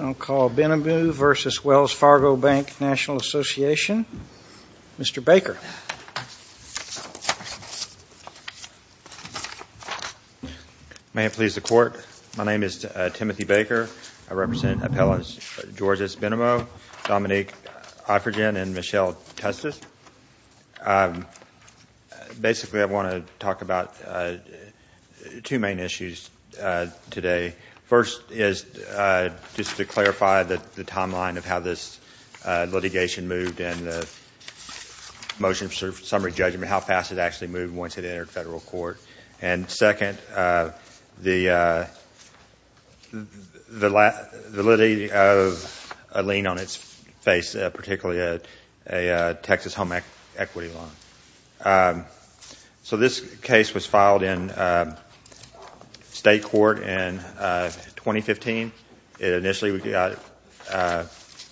I'll call Benamou v. Wells Fargo Bank N.A., Mr. Baker. May it please the Court, my name is Timothy Baker. I represent appellants Georges Benamou, Dominique Iphigen, and Michelle Tustis. Basically I want to talk about two main issues today. First is just to clarify the timeline of how this litigation moved and motion for summary judgment, how fast it actually moved once it entered federal court. And second, the litigation of a lien on its face, particularly a Texas home equity loan. So this case was filed in state court in 2015. It initially got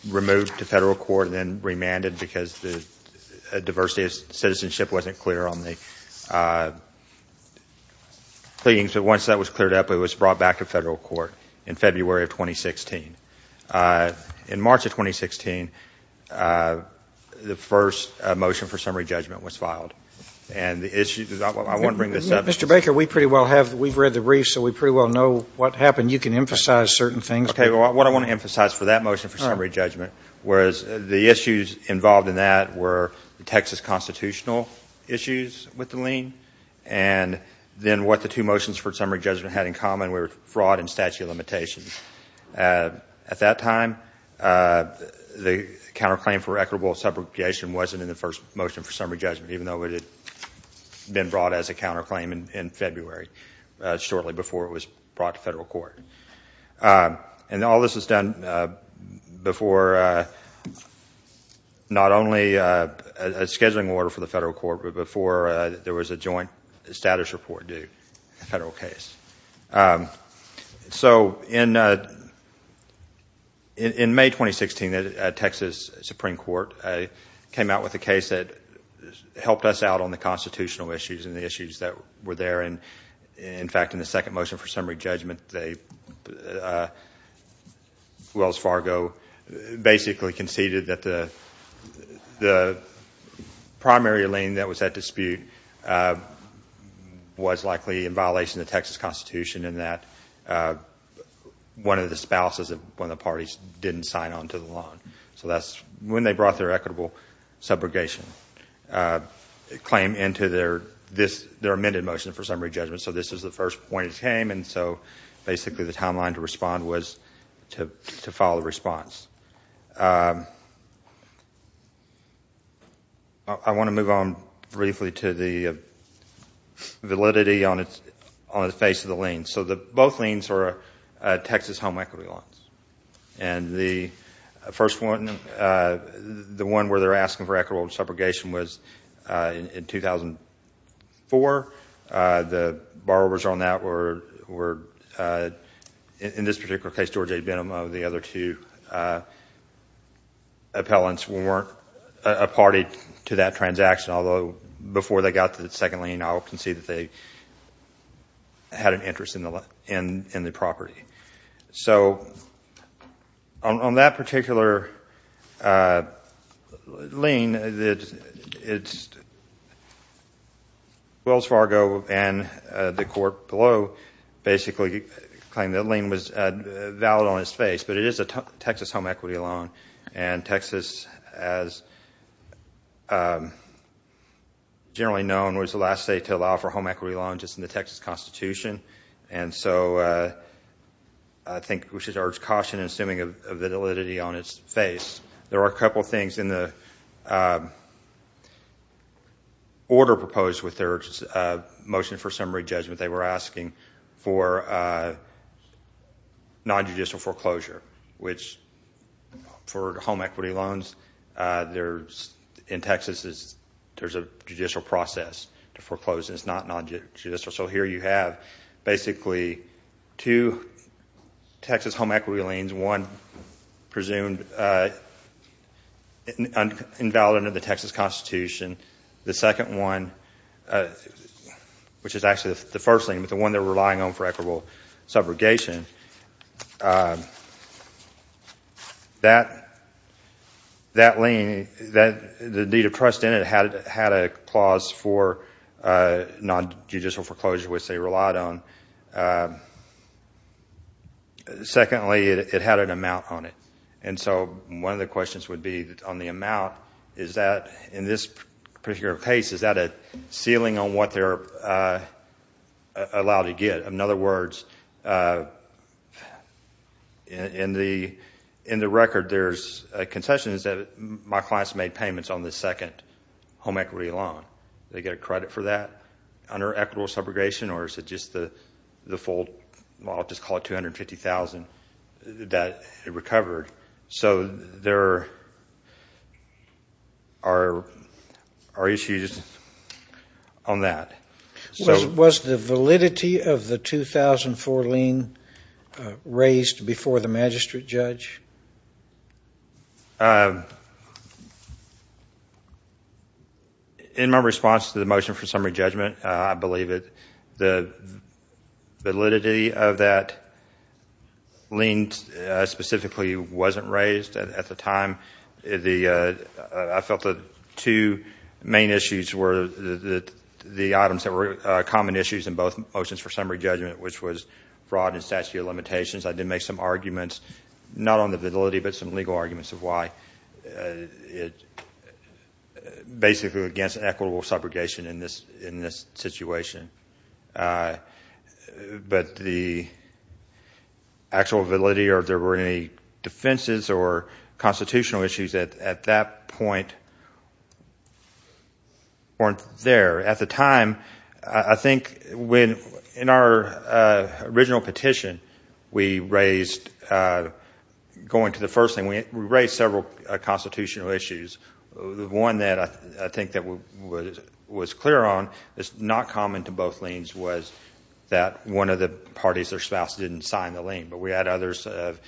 removed to federal court and then remanded because the diversity of citizenship wasn't clear on the cleanings. But once that was cleared up, it was brought back to federal court in February of 2016. In March of 2016, the first motion for summary judgment was filed. Mr. Baker, we've read the briefs, so we pretty well know what happened. You can emphasize certain things. Okay, what I want to emphasize for that motion for summary judgment was the issues involved in that were the Texas constitutional issues with the lien and then what the two motions had in common were fraud and statute of limitations. At that time, the counterclaim for equitable subrogation wasn't in the first motion for summary judgment, even though it had been brought as a counterclaim in February, shortly before it was brought to federal court. And all this was done before not only a scheduling order for the federal court, but before there was a joint status report due, a federal case. So in May 2016, the Texas Supreme Court came out with a case that helped us out on the constitutional issues and the issues that were there. In fact, in the second motion for summary judgment, Wells Fargo basically conceded that the primary lien that was at dispute was likely in violation of the Texas constitution and that one of the spouses of one of the parties didn't sign on to the loan. So that's when they brought their equitable subrogation claim into their amended motion for summary judgment. So this is the first point it came, and so basically the timeline to respond was to follow the response. I want to move on briefly to the validity on the face of the lien. So both liens are Texas home equity loans. And the first one, the one where they're asking for equitable subrogation was in 2004. The borrowers on that were, in this particular case, George A. Benomo, the other two appellants weren't a party to that transaction, although before they got to the second lien, I'll concede that they had an interest in the property. So on that particular lien, Wells Fargo and the court below basically claimed that the lien was valid on its face, but it is a Texas home equity loan. And Texas, as generally known, was the last state to allow for home equity loans just in the Texas constitution. And so I think we should urge caution in assuming a validity on its face. There are a couple of things in the order proposed with their motion for summary judgment. They were asking for non-judicial foreclosure, which for home equity loans in Texas, there's a judicial process to foreclose, and it's not non-judicial. So here you have basically two Texas home equity liens, one presumed invalid under the Texas constitution, the second one, which is actually the first one they're relying on for equitable subrogation. That lien, the need of trust in it, had a clause for non-judicial foreclosure, which they relied on. Secondly, it had an amount on it. And so one of the questions would be on the amount, is that in this particular case, is that a ceiling on what they're allowed to get? In other words, in the record, there's concessions that my clients made payments on the second home equity loan. They get a credit for that under equitable subrogation, or is it just the full, well, I'll just call it $250,000 that it recovered. So there are issues on that. Was the validity of the 2004 lien raised before the magistrate judge? In my response to the motion for summary judgment, I believe the validity of that lien specifically wasn't raised at the time. I felt the two main issues were the items that were common issues in both motions for summary judgment, which was fraud and statute of limitations. I did make some arguments, not on the validity, but some legal arguments of why. It's basically against equitable subrogation in this situation. But the actual validity, or if there were any defenses or constitutional issues at that point weren't there. At the time, I think in our original petition, we raised, going to the first thing, we raised several constitutional issues. The one that I think that was clear on is not common to both liens was that one of the parties, their spouse, didn't sign the lien. But we had others of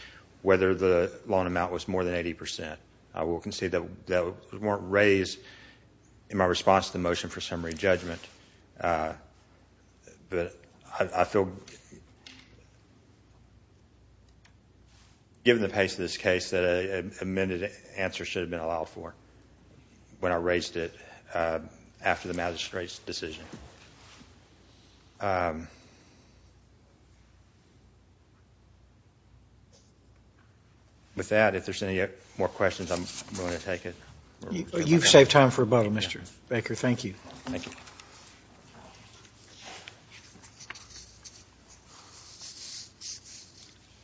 whether the loan amount was more than 80%. I will concede that weren't raised in my response to the motion for summary judgment. But I feel, given the pace of this case, that an amended answer should have been allowed for when I raised it after the magistrate's decision. With that, if there's any more questions, I'm willing to take it. You've saved time for rebuttal, Mr. Baker. Thank you. Thank you.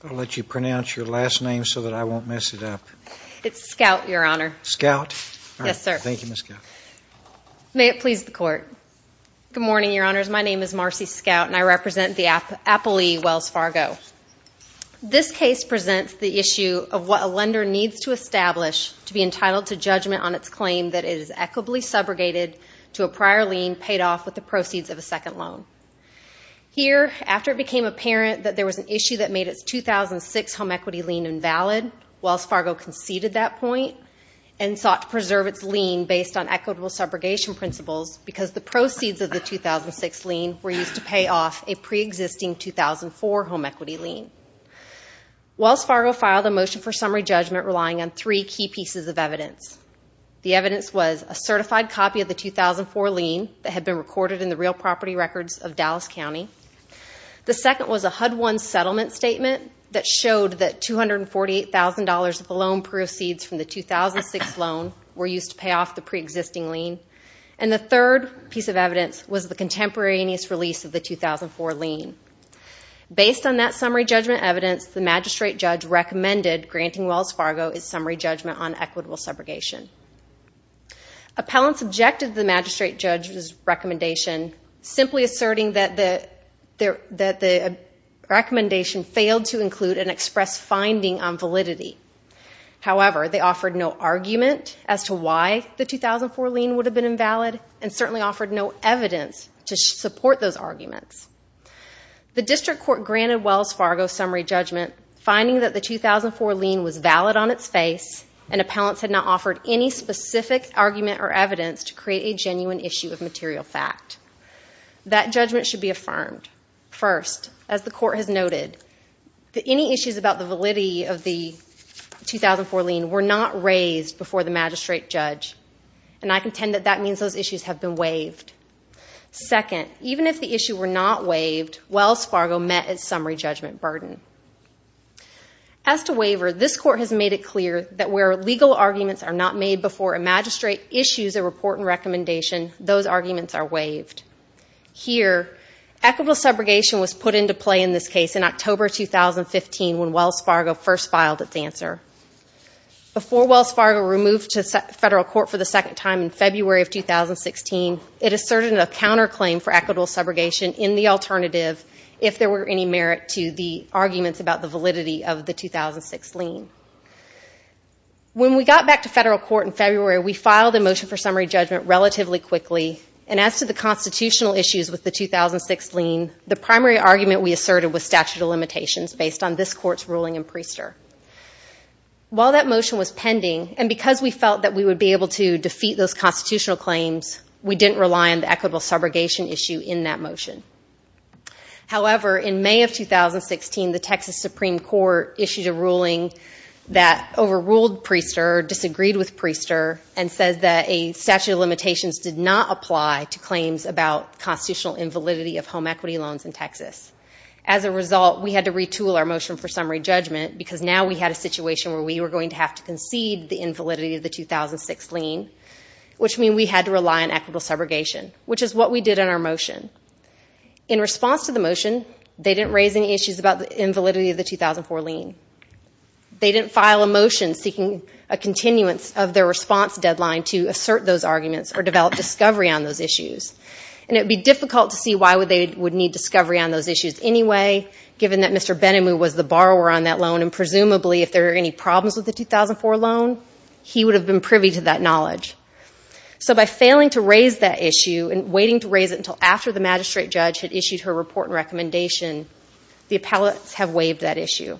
I'll let you pronounce your last name so that I won't mess it up. It's Scout, Your Honor. Scout? Yes, sir. May it please the Court. Good morning, Your Honors. My name is Marcy Scout, and I represent the appellee, Wells Fargo. This case presents the issue of what a lender needs to establish to be entitled to judgment on its claim that it is equitably subrogated to a prior lien paid off with the proceeds of a second loan. Here, after it became apparent that there was an issue that made its 2006 home equity lien invalid, Wells Fargo conceded that point and sought to preserve its lien based on equitable subrogation principles because the proceeds of the 2006 lien were used to pay off a pre-existing 2004 home equity lien. Wells Fargo filed a motion for summary judgment relying on three key pieces of evidence. The evidence was a certified copy of the 2004 lien that had been recorded in the real property records of Dallas County. The second was a HUD-1 settlement statement that showed that $248,000 of the loan proceeds from the 2006 loan were used to pay off the pre-existing lien. And the third piece of evidence was the contemporaneous release of the 2004 lien. Based on that summary judgment evidence, the magistrate judge recommended granting Wells Fargo its summary judgment on equitable subrogation. Appellants objected to the magistrate judge's recommendation, simply asserting that the recommendation failed to include an express finding on validity. However, they offered no argument as to why the 2004 lien would have been invalid and certainly offered no evidence to support those arguments. The district court granted Wells Fargo summary judgment, finding that the 2004 lien was valid on its face and appellants had not offered any specific argument or evidence to create a genuine issue of material fact. That judgment should be affirmed. First, as the court has noted, any issues about the validity of the 2004 lien were not raised before the magistrate judge and I contend that that means those issues have been waived. Second, even if the issue were not waived, Wells Fargo met its summary judgment burden. As to waiver, this court has made it clear that where legal arguments are not made before a magistrate issues a report and recommendation, those arguments are waived. Here, equitable subrogation was put into play in this case in October 2015 when Wells Fargo first filed its answer. Before Wells Fargo removed to federal court for the second time in February of 2016, it asserted a counterclaim for equitable subrogation in the alternative if there were any merit to the arguments about the validity of the 2006 lien. When we got back to federal court in February, we filed a motion for summary judgment relatively quickly and as to the constitutional issues with the 2006 lien, the primary argument we asserted was statute of limitations based on this court's ruling in Priester. While that motion was pending and because we felt that we would be able to defeat those constitutional claims, we didn't rely on it. In May of 2016, the Texas Supreme Court issued a ruling that overruled Priester, disagreed with Priester, and said that a statute of limitations did not apply to claims about constitutional invalidity of home equity loans in Texas. As a result, we had to retool our motion for summary judgment because now we had a situation where we were going to have to concede the invalidity of the 2006 lien, which means we had to rely on equitable subrogation, which is what we did in our motion. In response to the motion, they didn't raise any issues about the invalidity of the 2004 lien. They didn't file a motion seeking a continuance of their response deadline to assert those arguments or develop discovery on those issues. It would be difficult to see why they would need discovery on those issues anyway, given that Mr. Benamou was the borrower on that loan and presumably if there were any problems with the 2004 loan, he would have been privy to that knowledge. So by failing to raise that issue and waiting to raise it until after the magistrate judge had issued her report and recommendation, the appellates have waived that issue.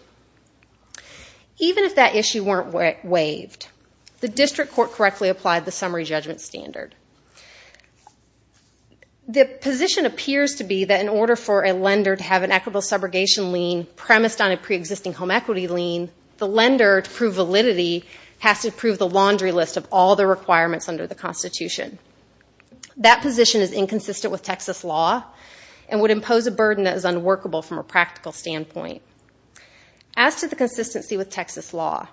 Even if that issue weren't waived, the district court correctly applied the summary judgment standard. The position appears to be that in order for a lender to have an equitable subrogation lien premised on a pre-existing home equity lien, the lender, to prove validity, has to prove the laundry list of all the requirements under the Constitution. That position is inconsistent with Texas law and would impose a burden that is unworkable from a practical standpoint. As to the consistency with Texas law,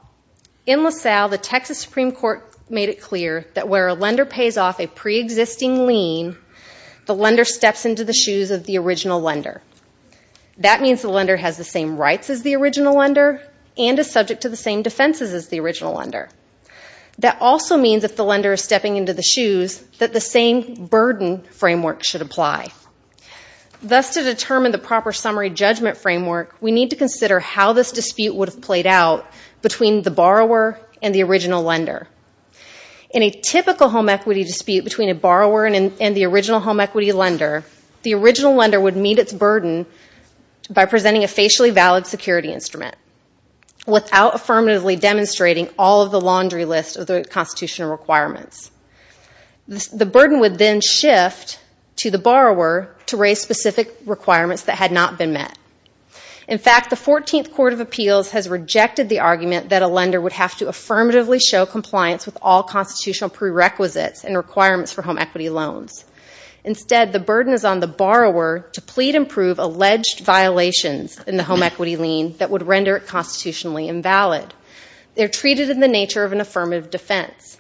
in LaSalle, the Texas Supreme Court made it clear that where a lender pays off a pre-existing lien, the lender steps into the shoes of the original lender. That means the lender has the same rights as the original lender and is subject to the same defenses as the original lender. That also means if the lender is stepping into the shoes, that the same burden framework should apply. Thus, to determine the proper summary judgment framework, we need to consider how this dispute would have played out between the borrower and the original lender. In a typical home equity dispute between a borrower and the original home equity lender, the original lender would meet its burden by presenting a facially valid security instrument without affirmatively demonstrating all of the laundry list of the Constitutional requirements. The burden would then shift to the borrower to raise specific requirements that had not been met. In fact, the 14th Court of Appeals has rejected the argument that a lender would have to affirmatively show compliance with all Constitutional prerequisites and requirements for home equity loans. Instead, the burden is on the borrower to plead and prove alleged violations in the home equity lien that would render it constitutionally invalid. They are treated in the nature of an affirmative defense.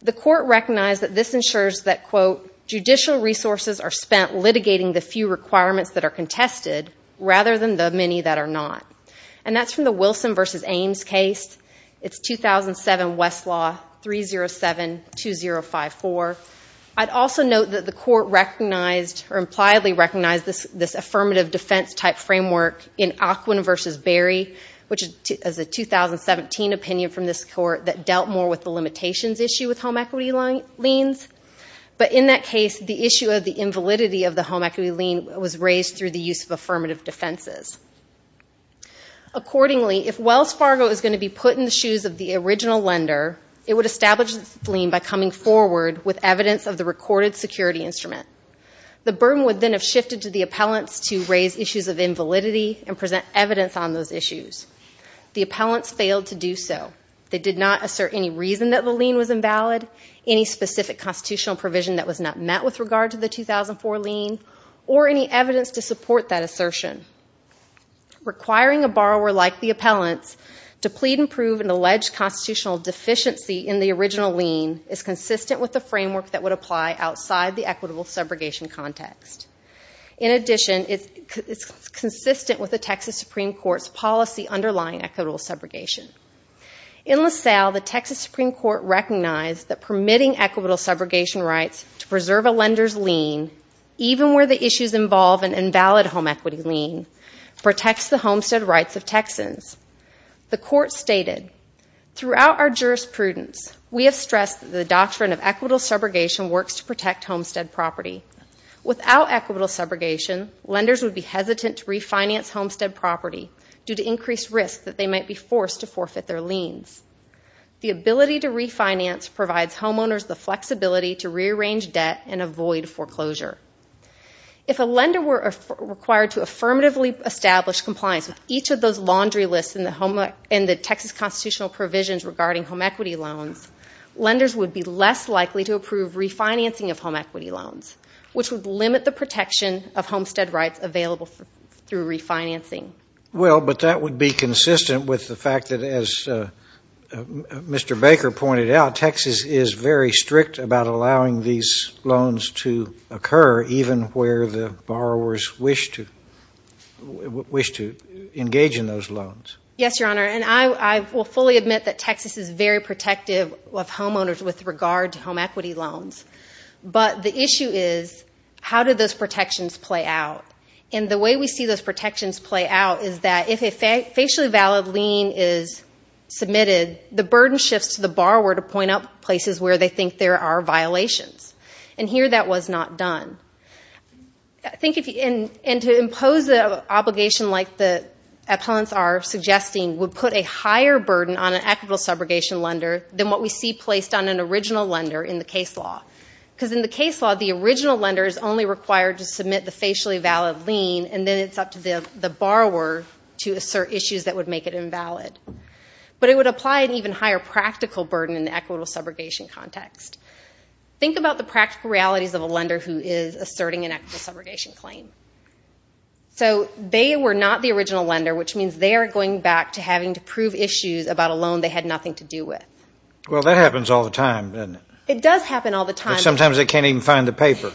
The Court recognized that this ensures that, quote, judicial resources are spent litigating the few requirements that are contested rather than the many that are not. That is from the Wilson v. Ames case, 2007 Westlaw 307-2054. I would also note that the Court impliedly recognized this affirmative defense type framework in Aquin v. Berry, which is a 2017 opinion from this Court that dealt more with the limitations issue with home equity liens. But in that case, the issue of the invalidity of the home equity lien was raised through the use of affirmative defenses. Accordingly, if Wells Fargo is going to be put in the shoes of the original lender, it would establish this lien by coming forward with evidence of the recorded security instrument. The burden would then have shifted to the appellants to raise issues of invalidity and present evidence on those issues. The appellants failed to do so. They did not assert any reason that the lien was invalid, any specific Constitutional lien, or any evidence to support that assertion. Requiring a borrower like the appellants to plead and prove an alleged Constitutional deficiency in the original lien is consistent with the framework that would apply outside the equitable subrogation context. In addition, it is consistent with the Texas Supreme Court's policy underlying equitable subrogation. In LaSalle, the Texas Supreme Court recognized that permitting equitable subrogation rights to preserve a lender's lien, even where the issues involve an invalid home equity lien, protects the homestead rights of Texans. The court stated, throughout our jurisprudence, we have stressed that the doctrine of equitable subrogation works to protect homestead property. Without equitable subrogation, lenders would be hesitant to refinance homestead property due to increased risk that they might be forced to forfeit their liens. The ability to refinance provides homeowners the flexibility to rearrange debt and avoid foreclosure. If a lender were required to affirmatively establish compliance with each of those laundry lists in the Texas Constitutional provisions regarding home equity loans, lenders would be less likely to approve refinancing of home equity loans, which would limit the protection of homestead rights available through refinancing. Well, but that would be consistent with the fact that, as Mr. Baker pointed out, Texas is very strict about allowing these loans to occur, even where the borrowers wish to engage in those loans. Yes, Your Honor, and I will fully admit that Texas is very protective of homeowners with regard to home equity loans. But the issue is, how do those protections play out? And the way we see those is that if a facially valid lien is submitted, the burden shifts to the borrower to point out places where they think there are violations. And here, that was not done. And to impose an obligation like the appellants are suggesting would put a higher burden on an equitable subrogation lender than what we see placed on an original lender in the case law. Because in the case law, the original lender is only required to submit the facially valid lien, and then it's up to the borrower to assert issues that would make it invalid. But it would apply an even higher practical burden in the equitable subrogation context. Think about the practical realities of a lender who is asserting an equitable subrogation claim. So they were not the original lender, which means they are going back to having to prove issues about a loan they had nothing to do with. Well, that happens all the time, doesn't it? It does happen all the time. Sometimes they can't even find the paper.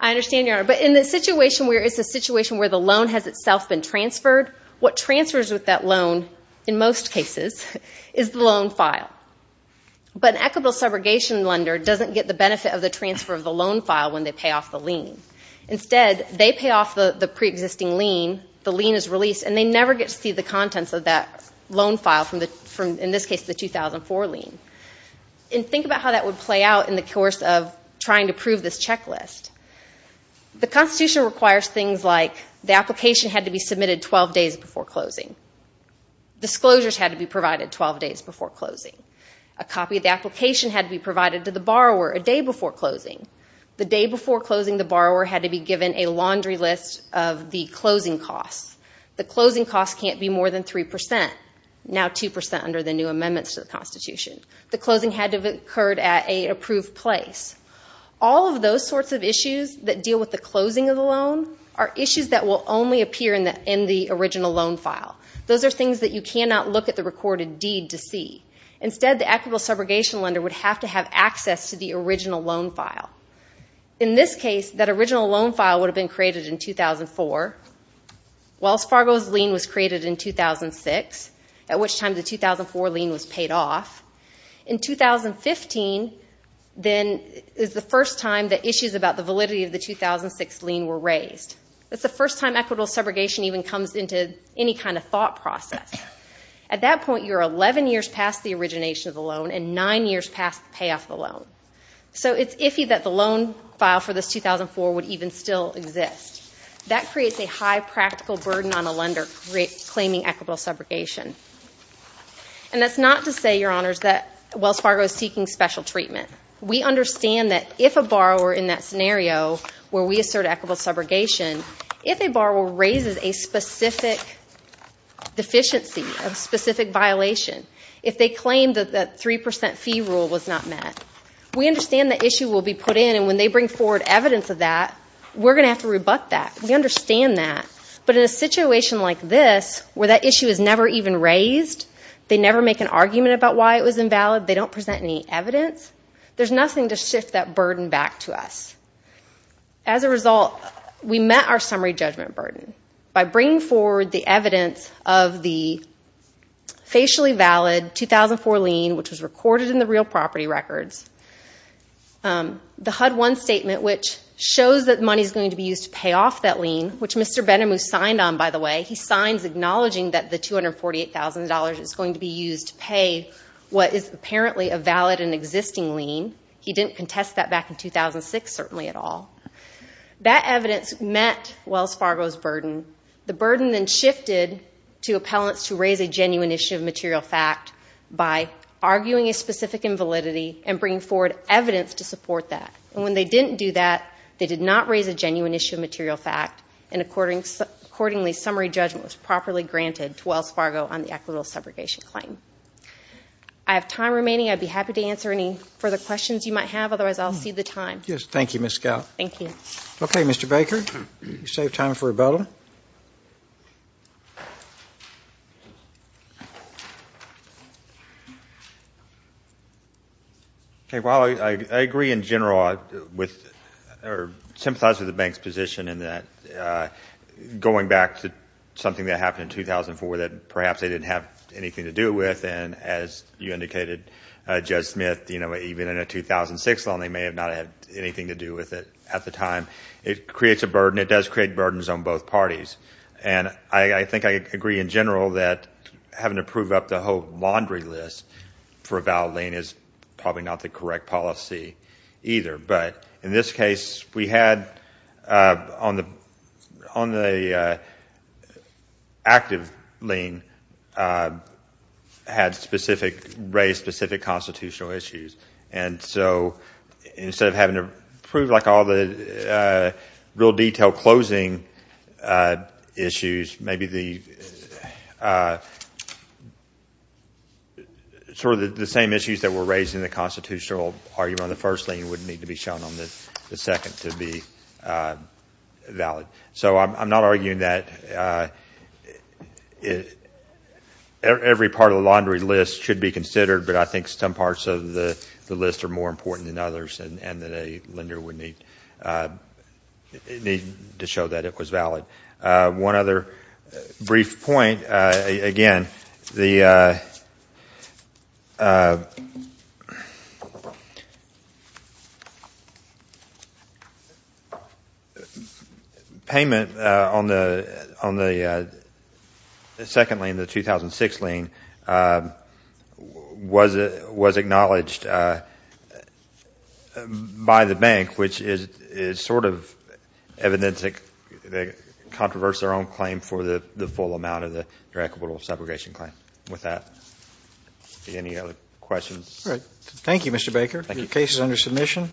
I understand, Your Honor. But in the situation where it's a situation where the loan has itself been transferred, what transfers with that loan, in most cases, is the loan file. But an equitable subrogation lender doesn't get the benefit of the transfer of the loan file when they pay off the lien. Instead, they pay off the preexisting lien, the lien is released, and they never get to see the contents of that loan file from, in this case, the 2004 lien. Think about how that would play out in the course of trying to prove this checklist. The Constitution requires things like the application had to be submitted 12 days before closing. Disclosures had to be provided 12 days before closing. A copy of the application had to be provided to the borrower a day before closing. The day before closing, the borrower had to be given a laundry list of the closing costs. The closing costs can't be more than 3 percent, now 2 percent under the new amendments to the Constitution. The closing had to have occurred at an approved place. All of those sorts of issues that deal with the closing of the loan are issues that will only appear in the original loan file. Those are things that you cannot look at the recorded deed to see. Instead, the equitable subrogation lender would have to have access to the original loan file. In this case, that original loan file would have been in 2006, at which time the 2004 lien was paid off. In 2015, then, is the first time that issues about the validity of the 2006 lien were raised. That's the first time equitable subrogation even comes into any kind of thought process. At that point, you're 11 years past the origination of the loan and 9 years past the payoff of the loan. So it's iffy that the loan file for this 2004 would even still exist. That creates a high practical burden on a lender claiming equitable subrogation. And that's not to say, Your Honors, that Wells Fargo is seeking special treatment. We understand that if a borrower, in that scenario where we assert equitable subrogation, if a borrower raises a specific deficiency, a specific violation, if they claim that the 3 percent fee rule was not met, we understand the issue will be put in and when they bring forward evidence of that, we're going to have to rebut that. We understand that. But in a situation like this, where that issue is never even raised, they never make an argument about why it was invalid, they don't present any evidence, there's nothing to shift that burden back to us. As a result, we met our summary judgment burden by bringing forward the evidence of the facially valid 2004 lien, which was recorded in the real property records. The HUD-1 statement, which shows that money is going to be used to pay off that lien, which Mr. Benamou signed on, by the way. He signs acknowledging that the $248,000 is going to be used to pay what is apparently a valid and existing lien. He didn't contest that back in 2006, certainly at all. That evidence met Wells Fargo's burden. The burden then shifted to appellants to raise a genuine issue of material fact by arguing a specific invalidity and bringing forward evidence to support that. And when they didn't do that, they did not raise a genuine issue of material fact, and accordingly, summary judgment was properly granted to Wells Fargo on the equitable separation claim. I have time remaining. I'd be happy to answer any further questions you might have. Otherwise, I'll cede the time. Yes, thank you, Ms. Scout. Thank you. Okay, Mr. Baker, you saved time for a bell. Okay, well, I agree in general with or sympathize with the bank's position in that going back to something that happened in 2004 that perhaps they didn't have anything to do with, and as you indicated, Judge Smith, you know, even in a 2006 loan, they may have not had anything to do with it at the time. It creates a burden. It does create burdens on both parties. And I think I agree in general that having to prove up the whole laundry list for a valid lien is probably not the correct policy either. But in this case, we had on the active lien had specific, raised specific constitutional issues. And so instead of having to prove like all the real detail closing issues, maybe the sort of the same issues that were raised in the constitutional argument on the first lien wouldn't need to be shown on the second to be valid. So I'm not arguing that every part of the laundry list should be considered, but I think some parts of the list are more important than others and that a lender would need to show that it was valid. One other brief point, again, the payment on the second lien, the 2006 lien, was acknowledged by the bank, which is sort of evident that they controversed their own claim for the full amount of the direct capital subrogation claim. With that, any other questions? All right. Thank you, Mr. Baker. Your case is under submission.